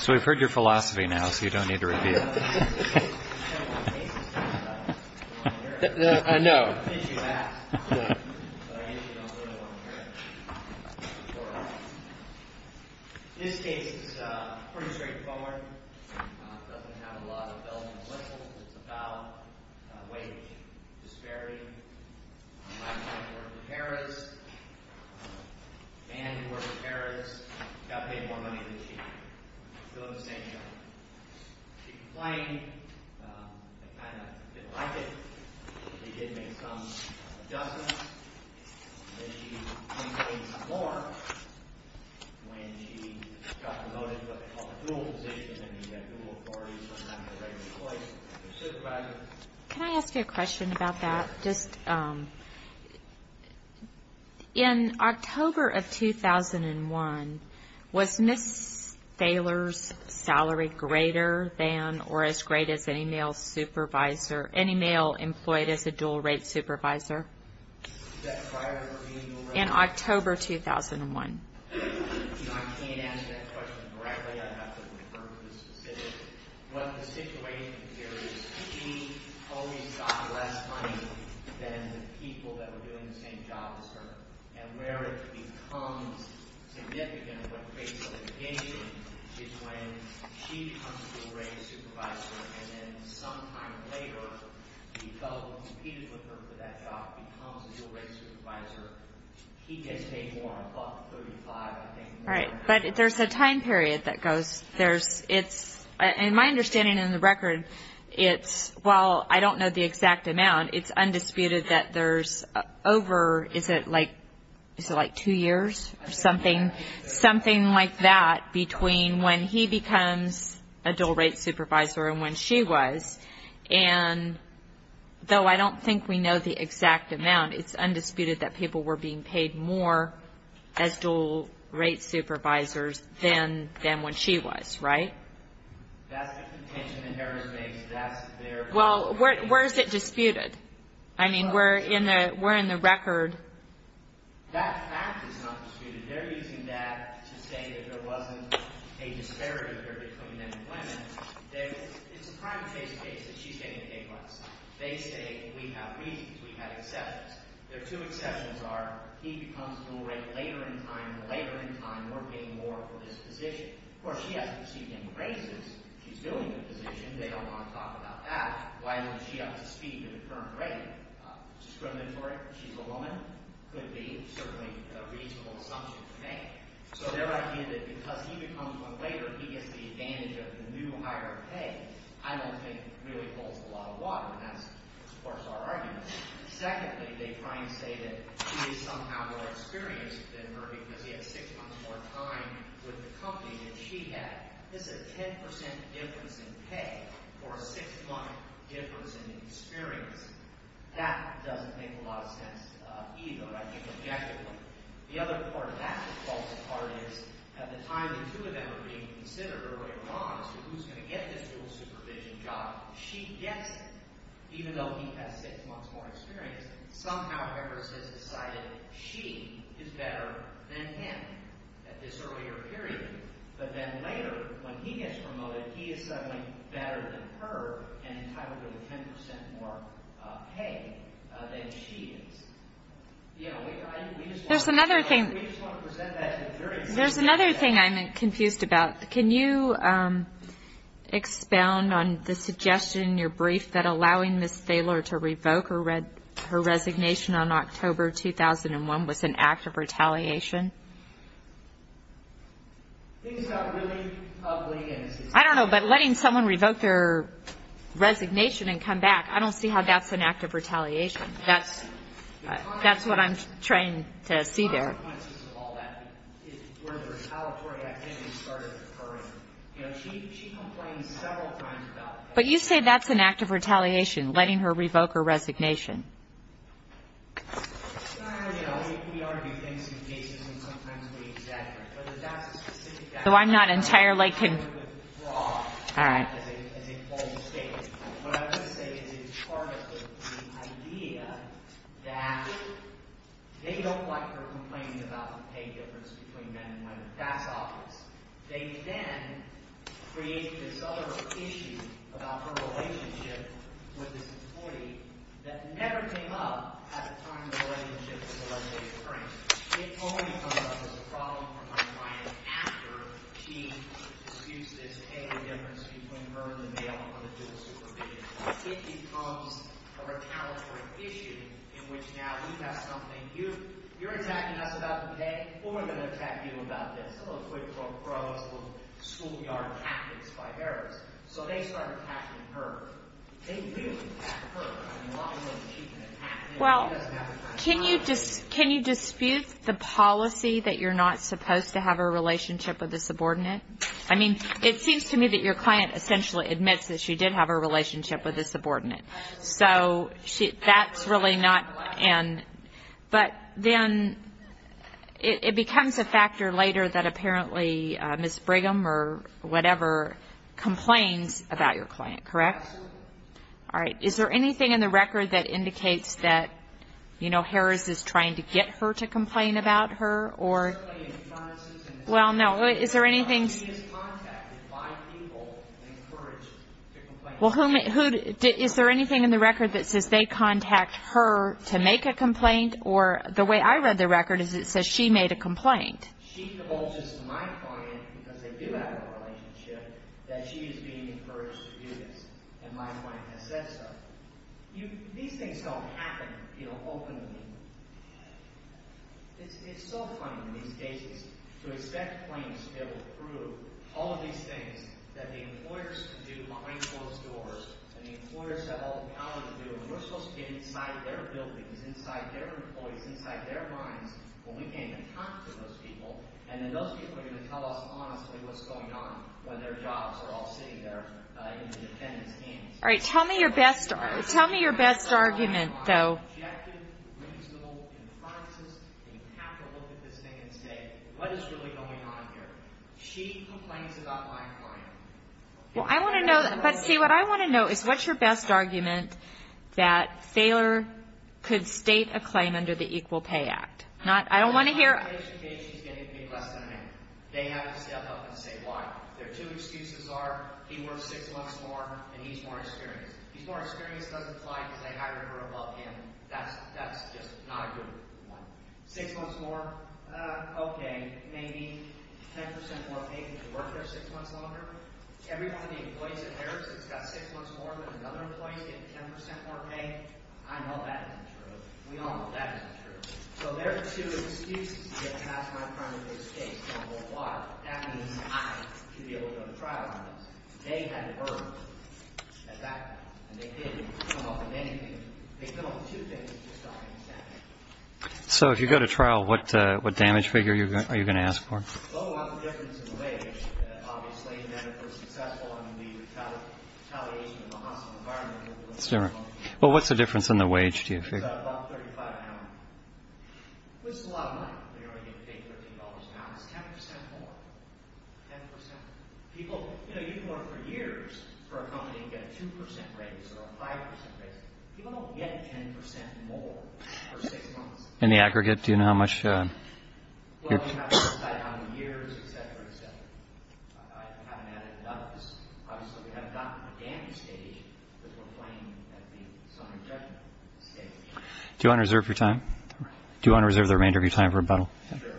So we've heard your philosophy now, so you don't need to review it. I know. I think you asked, but I usually don't really want to hear it. This case is pretty straightforward. It doesn't have a lot of bells and whistles. It's about wage disparity. My wife worked at Harrah's. A man who worked at Harrah's got paid more money than she did. Still in the same job. She complained. They kind of didn't like it. They did make some adjustments. Then she complained some more. When she got promoted to what they called a dual position, then she got dual authority sometimes in a regular place. Can I ask you a question about that? In October of 2001, was Ms. Thaler's salary greater than or as great as any male supervisor or any male employed as a dual-rate supervisor? Prior to her being a dual-rate supervisor? In October 2001. I can't answer that question correctly. I'd have to refer to the specifics. What the situation here is, she always got less money than the people that were doing the same job as her. And where it becomes significant in what phase of litigation is when she becomes a dual-rate supervisor and then some time later, he fell in dispute with her for that job, becomes a dual-rate supervisor. He gets paid more, above $35,000, I think. Right, but there's a time period that goes. In my understanding in the record, while I don't know the exact amount, it's undisputed that there's over, is it like two years or something, something like that between when he becomes a dual-rate supervisor and when she was. And though I don't think we know the exact amount, it's undisputed that people were being paid more as dual-rate supervisors than when she was, right? That's the contention that Harris makes. Well, where is it disputed? I mean, we're in the record. That fact is not disputed. They're using that to say that there wasn't a disparity there between men and women. It's a prime case case that she's getting the pay cuts. They say we have reasons, we have exceptions. Their two exceptions are he becomes a dual-rate later in time and later in time we're getting more for this position. Of course, she hasn't received any raises. She's doing the position. They don't want to talk about that. Why would she have to speak at a current rate? Discriminatory? She's a woman? Could be. Certainly a reasonable assumption to make. So their idea that because he becomes one later, he gets the advantage of the new higher pay, I don't think really holds a lot of water, and that's, of course, our argument. Secondly, they try and say that he is somehow more experienced than her because he had six months more time with the company than she had. This is a 10% difference in pay for a six-month difference in experience. That doesn't make a lot of sense either, I think, objectively. The other part of that that falls apart is at the time the two of them are being considered early on as to who's going to get this dual-supervision job, she gets it, even though he has six months more experience. Somehow Harris has decided she is better than him at this earlier period, but then later when he gets promoted, he is suddenly better than her and entitled to the 10% more pay than she is. There's another thing I'm confused about. Can you expound on the suggestion in your brief that allowing Ms. Thaler to revoke her resignation on October 2001 was an act of retaliation? I don't know, but letting someone revoke their resignation and come back, I don't see how that's an act of retaliation. That's what I'm trying to see there. But you say that's an act of retaliation, letting her revoke her resignation. It's not that we argue things in cases and sometimes we exaggerate, but that's a specific act of retaliation. It's not a good fraud, as they call the state. What I'm trying to say is that it's part of the idea that they don't like her complaining about the pay difference between men and women. That's obvious. They then create this other issue about her relationship with this employee that never came up at the time of her relationship with the legislative branch. It only comes up as a problem for my client after she disputes this pay difference between her and the male on the judicial supervision. It becomes a retaliatory issue in which now we have something. You're attacking us about the pay. What am I going to attack you about this? A little quid pro quo, a little schoolyard tactics by Harris. So they start attacking her. Well, can you dispute the policy that you're not supposed to have a relationship with a subordinate? I mean, it seems to me that your client essentially admits that she did have a relationship with a subordinate. But then it becomes a factor later that apparently Ms. Brigham or whatever complains about your client, correct? Absolutely. All right. Is there anything in the record that indicates that Harris is trying to get her to complain about her? Well, no. Is there anything in the record that says they contact her to make a complaint? Or the way I read the record is it says she made a complaint. She divulges to my client, because they do have a relationship, that she is being encouraged to do this. And my client has said so. These things don't happen openly. It's so funny in these cases to expect claims to be able to prove all of these things that the employers can do behind closed doors and the employers have all the power to do. If we're supposed to get inside their buildings, inside their employees, inside their minds, well, we can't even talk to those people. And then those people are going to tell us honestly what's going on when their jobs are all sitting there in the defendant's hands. All right. Tell me your best argument, though. Objective, reasonable inferences. You have to look at this thing and say, what is really going on here? She complains about my client. Well, I want to know. But, see, what I want to know is what's your best argument that Thaler could state a claim under the Equal Pay Act? I don't want to hear. She's getting paid less than an hour. They have to step up and say why. Their two excuses are he works six months more and he's more experienced. He's more experienced doesn't apply because they hired her above him. That's just not a good one. Six months more, okay, maybe 10% more pay if you work there six months longer. Every one of the employees of theirs that's got six months more than another employee is getting 10% more pay. I know that isn't true. We all know that isn't true. So their two excuses to get past my client is a mistake. Now, well, why? That means I should be able to go to trial on this. They had to earn it. In fact, they didn't come up with anything. They came up with two things. That's just not going to happen. So if you go to trial, what damage figure are you going to ask for? Well, what's the difference in the wage? Obviously, then if we're successful in the retaliation of the hostile environment. Well, what's the difference in the wage, do you figure? It's about $35 an hour. Well, it's a lot of money. We only get paid $13 an hour. It's 10% more. 10%. People, you know, you can work for years for a company and get a 2% raise or a 5% raise. People don't get 10% more for six months. In the aggregate, do you know how much? Well, you have to decide how many years, et cetera, et cetera. I haven't added none of this. Obviously, we haven't gotten to the damage stage because we're playing at the Do you want to reserve your time? Do you want to reserve the remainder of your time for rebuttal? Sure.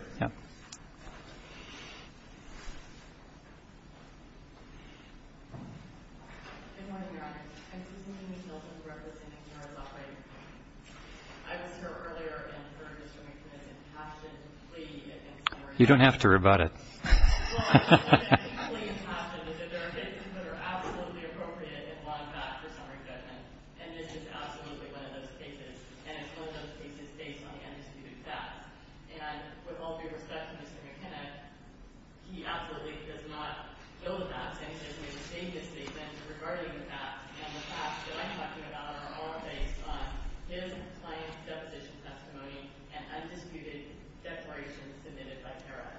You don't have to rebut it. It's absolutely one of those cases, and it's one of those cases based on the undisputed facts. And with all due respect to Mr. McKenna, he absolutely does not know the facts. And he doesn't even say anything regarding the facts. And the facts that I'm talking about are all based on his client's deposition testimony and undisputed declarations submitted by Tara.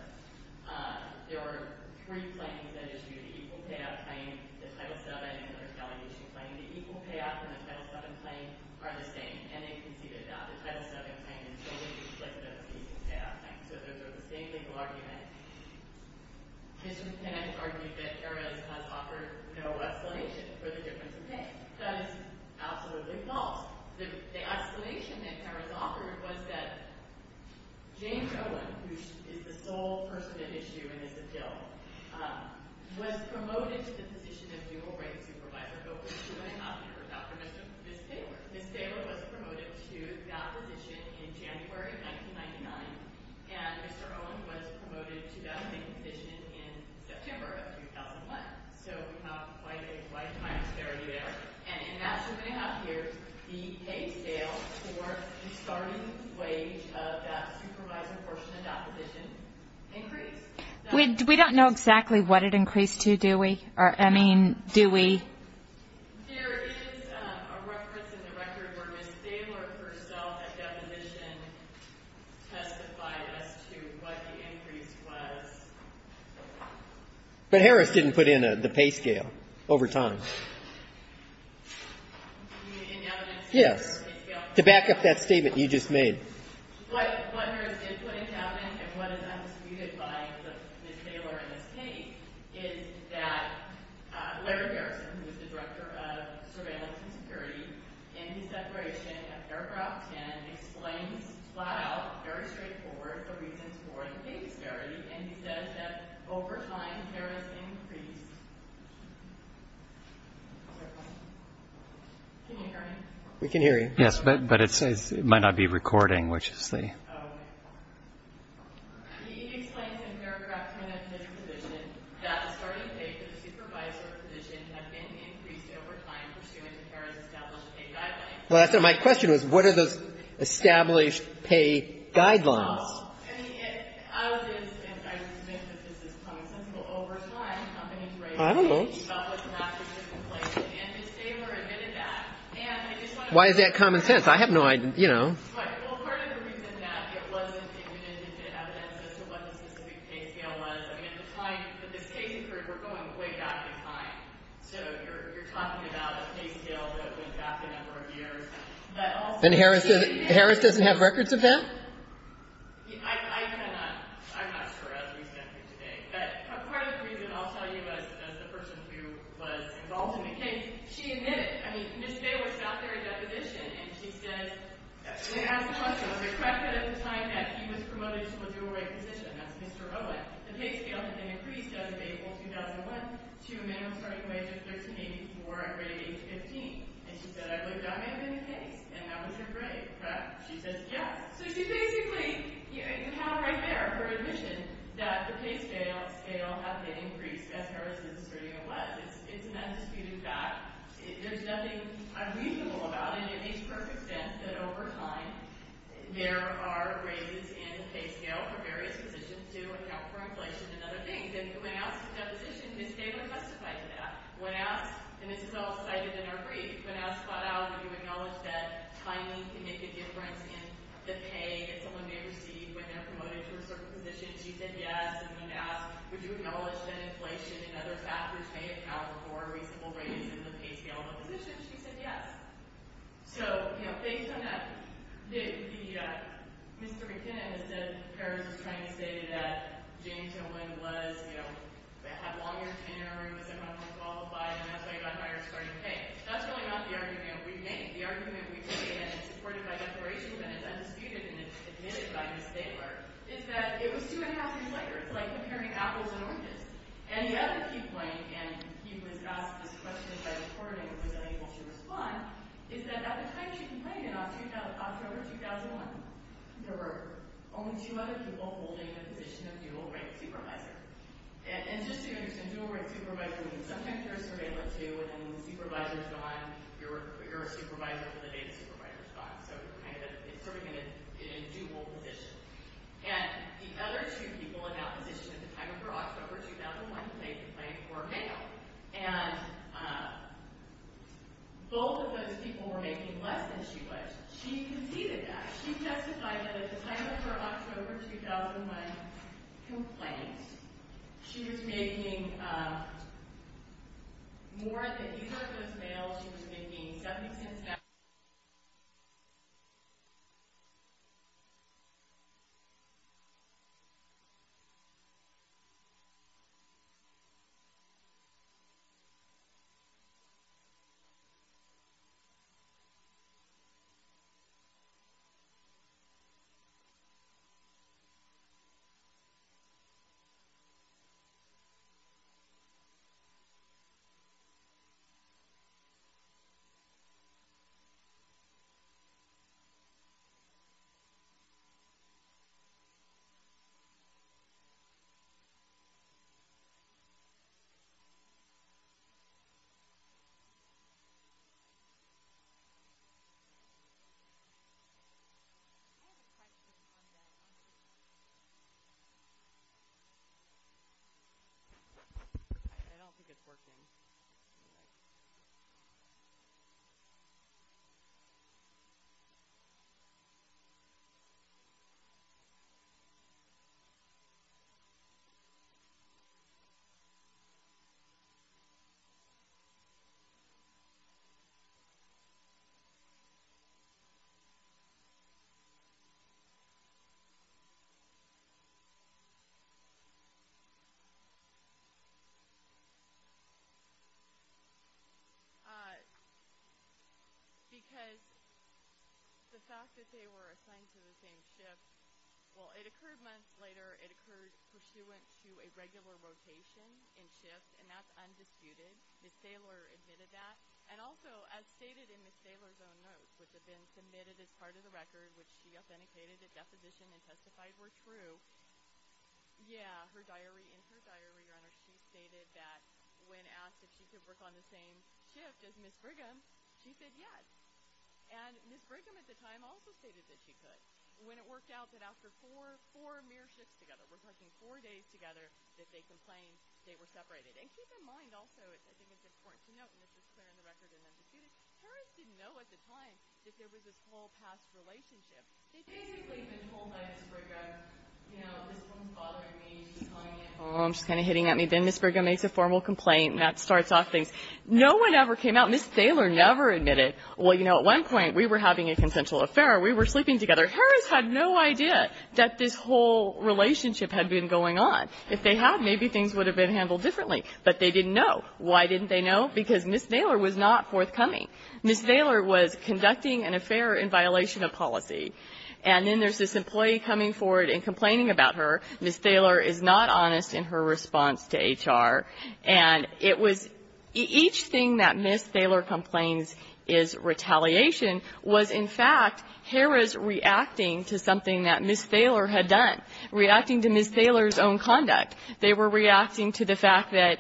There were three claims that issued an equal payout claim, the Title VII and the retaliation claim. And the equal payout from the Title VII claim are the same. And they conceded that. The Title VII claim is totally explicit of the equal payout claim. So those are the same legal arguments. Mr. McKenna argued that Harris has offered no explanation for the difference in pay. That is absolutely false. The explanation that Harris offered was that James Owen, who is the sole person at issue in this appeal, was promoted to the position of dual rank supervisor over two and a half years after Ms. Taylor. Ms. Taylor was promoted to that position in January 1999. And Mr. Owen was promoted to that same position in September of 2001. So we have quite a lifetime disparity there. And in that two and a half years, the pay scale for the starting wage of that supervisor portion of that position increased. We don't know exactly what it increased to, do we? Or, I mean, do we? There is a reference in the record where Ms. Taylor herself at deposition testified as to what the increase was. But Harris didn't put in the pay scale over time. You mean in evidence? Yes. To back up that statement you just made. What Harris did put in cabinet and what is undisputed by Ms. Taylor in this case is that Larry Harrison, who is the director of surveillance and security, in his declaration of paragraph 10, explains flat out, very straightforward, the reasons for the pay disparity. And he says that over time, there has increased. Can you hear me? We can hear you. Yes, but it says it might not be recording, which is the. Oh, okay. He explains in paragraph 10 of his position that the starting pay for the supervisor position had been increased over time pursuant to Harris' established pay guidelines. Well, my question was, what are those established pay guidelines? I mean, I was going to say, and I would submit that this is commonsensical, over time, companies raised concerns about what's happening in different places. And Ms. Taylor admitted that. Why is that commonsense? I have no idea. You know. Right. Well, part of the reason that it wasn't admitted into evidence as to what the specific pay scale was, I mean, at the time that this case occurred, we're going way back in time. So you're talking about a pay scale that went back a number of years. But also. And Harris doesn't have records of that? I cannot. I'm not sure, as we stand here today. But part of the reason, I'll tell you, as the person who was involved in the case, she admitted. I mean, Ms. Taylor sat there in that position, and she says, and it has a question. Was it correct that at the time that he was promoted to a dual-rate position, that's Mr. Owen, the pay scale had been increased as of April 2001 to a minimum starting wage of $13.84 at rate age 15? And she said, I looked down at it in the case, and that was her grade, correct? She says, yes. So she basically, you have it right there, her admission, that the pay scale has been increased, as Harris is asserting it was. It's an undisputed fact. There's nothing unreasonable about it. And it makes perfect sense that over time, there are raises in pay scale for various positions to account for inflation and other things. And when asked in that position, Ms. Taylor testified to that. When asked, and this is all cited in her brief, when asked flat out, would you acknowledge that timing can make a difference in the pay that someone may receive when they're promoted to a certain position, she said yes. And when asked, would you acknowledge that inflation and other factors may account for reasonable raises in the pay scale of a position, she said yes. So, you know, based on that, Mr. McKinnon has said Harris is trying to say that James Owen was, you know, had longer tenure, was unqualified, and that's why he got hired starting pay. That's really not the argument we've made. The argument we've made, and it's supported by the Federation, and it's undisputed, and it's admitted by Ms. Taylor, is that it was two and a half years later. It's like comparing apples and oranges. And the other key point, and he was asked this question by the coordinator, who was unable to respond, is that at the time she complained, in October 2001, there were only two other people holding the position of dual rank supervisor. And just so you understand, dual rank supervisor means sometimes you're a surveyor, too, and the supervisor's gone, you're a supervisor for the day the supervisor's gone. So it's sort of in a dual position. And the other two people in that position at the time of her October 2001 complaint were male. And both of those people were making less than she was. She conceded that. She justified that at the time of her October 2001 complaint, she was making more than either of those males. She was making 70 percent of that. I don't think it's working. Okay. Okay. Okay. Okay. Okay. Okay. The other thing that I want to just highlight is that because the fact that they were assigned to the same shift, well, it occurred months later, it occurred pursuant to a regular rotation in shifts, and that's undisputed. Ms. Thaler admitted that. And also, as stated in Ms. Thaler's own notes, which have been submitted as part of the record, which she authenticated at deposition and testified were true, yeah, her diary, Your Honor, she stated that when asked if she could work on the same shift as Ms. Brigham, she said yes. And Ms. Brigham at the time also stated that she could. When it worked out that after four mere shifts together, we're talking four days together, that they complained they were separated. And keep in mind also, I think it's important to note, and this is clear in the record and undisputed, parents didn't know at the time that there was this whole past relationship. They basically had been told by Ms. Brigham, you know, this woman's bothering me. Oh, she's kind of hitting at me. Then Ms. Brigham makes a formal complaint, and that starts off things. No one ever came out. Ms. Thaler never admitted. Well, you know, at one point, we were having a consensual affair. We were sleeping together. Harris had no idea that this whole relationship had been going on. If they had, maybe things would have been handled differently. But they didn't know. Why didn't they know? Because Ms. Thaler was not forthcoming. Ms. Thaler was conducting an affair in violation of policy. And then there's this employee coming forward and complaining about her. Ms. Thaler is not honest in her response to HR. And it was each thing that Ms. Thaler complains is retaliation was, in fact, Harris reacting to something that Ms. Thaler had done, reacting to Ms. Thaler's own conduct. They were reacting to the fact that,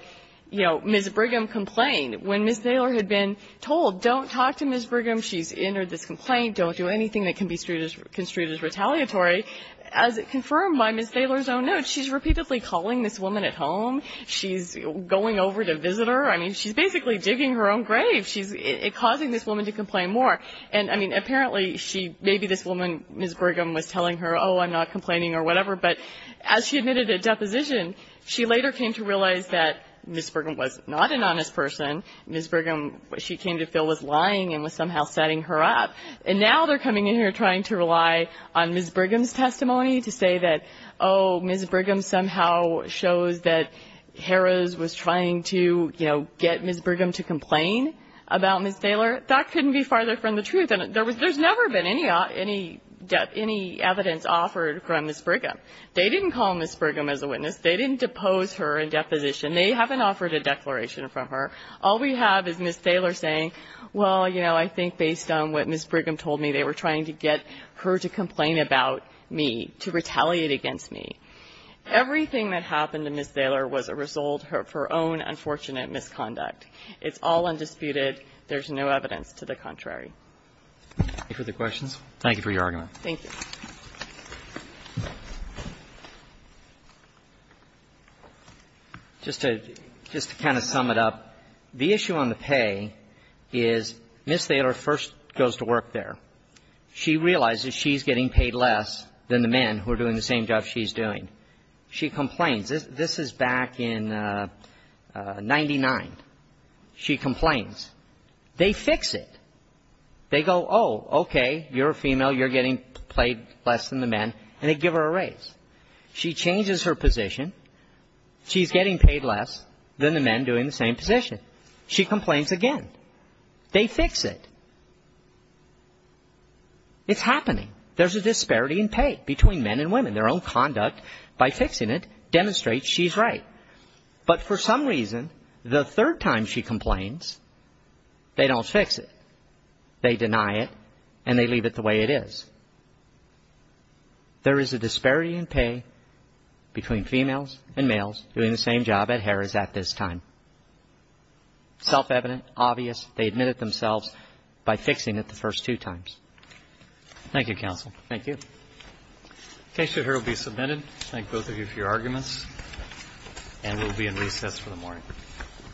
you know, Ms. Brigham complained. When Ms. Thaler had been told, don't talk to Ms. Brigham, she's entered this complaint, don't do anything that can be construed as retaliatory, as confirmed by Ms. Thaler, Ms. Thaler's own notes. She's repeatedly calling this woman at home. She's going over to visit her. I mean, she's basically digging her own grave. She's causing this woman to complain more. And, I mean, apparently she – maybe this woman, Ms. Brigham, was telling her, oh, I'm not complaining or whatever. But as she admitted at deposition, she later came to realize that Ms. Brigham was not an honest person. Ms. Brigham, she came to feel, was lying and was somehow setting her up. And now they're coming in here trying to rely on Ms. Brigham's testimony to say that, oh, Ms. Brigham somehow shows that Harris was trying to, you know, get Ms. Brigham to complain about Ms. Thaler. That couldn't be farther from the truth. And there's never been any evidence offered from Ms. Brigham. They didn't call Ms. Brigham as a witness. They didn't depose her in deposition. They haven't offered a declaration from her. All we have is Ms. Thaler saying, well, you know, I think based on what Ms. Brigham told me they were trying to get her to complain about me, to retaliate against me. Everything that happened to Ms. Thaler was a result of her own unfortunate misconduct. It's all undisputed. There's no evidence to the contrary. Roberts. Thank you for the questions. Thank you for your argument. Thank you. Just to kind of sum it up, the issue on the pay is Ms. Thaler first goes to work there. She realizes she's getting paid less than the men who are doing the same job she's doing. She complains. This is back in 1999. She complains. They fix it. They go, oh, okay, you're a female. You're getting paid less than the men. And they give her a raise. She changes her position. She's getting paid less than the men doing the same position. She complains again. They fix it. It's happening. There's a disparity in pay between men and women. Their own conduct by fixing it demonstrates she's right. But for some reason, the third time she complains, they don't fix it. They deny it, and they leave it the way it is. There is a disparity in pay between females and males doing the same job at Harrah's at this time. Self-evident, obvious, they admit it themselves by fixing it the first two times. Thank you, counsel. Thank you. The case here will be submitted. Thank both of you for your arguments. And we'll be in recess for the morning. Thank you. Thank you.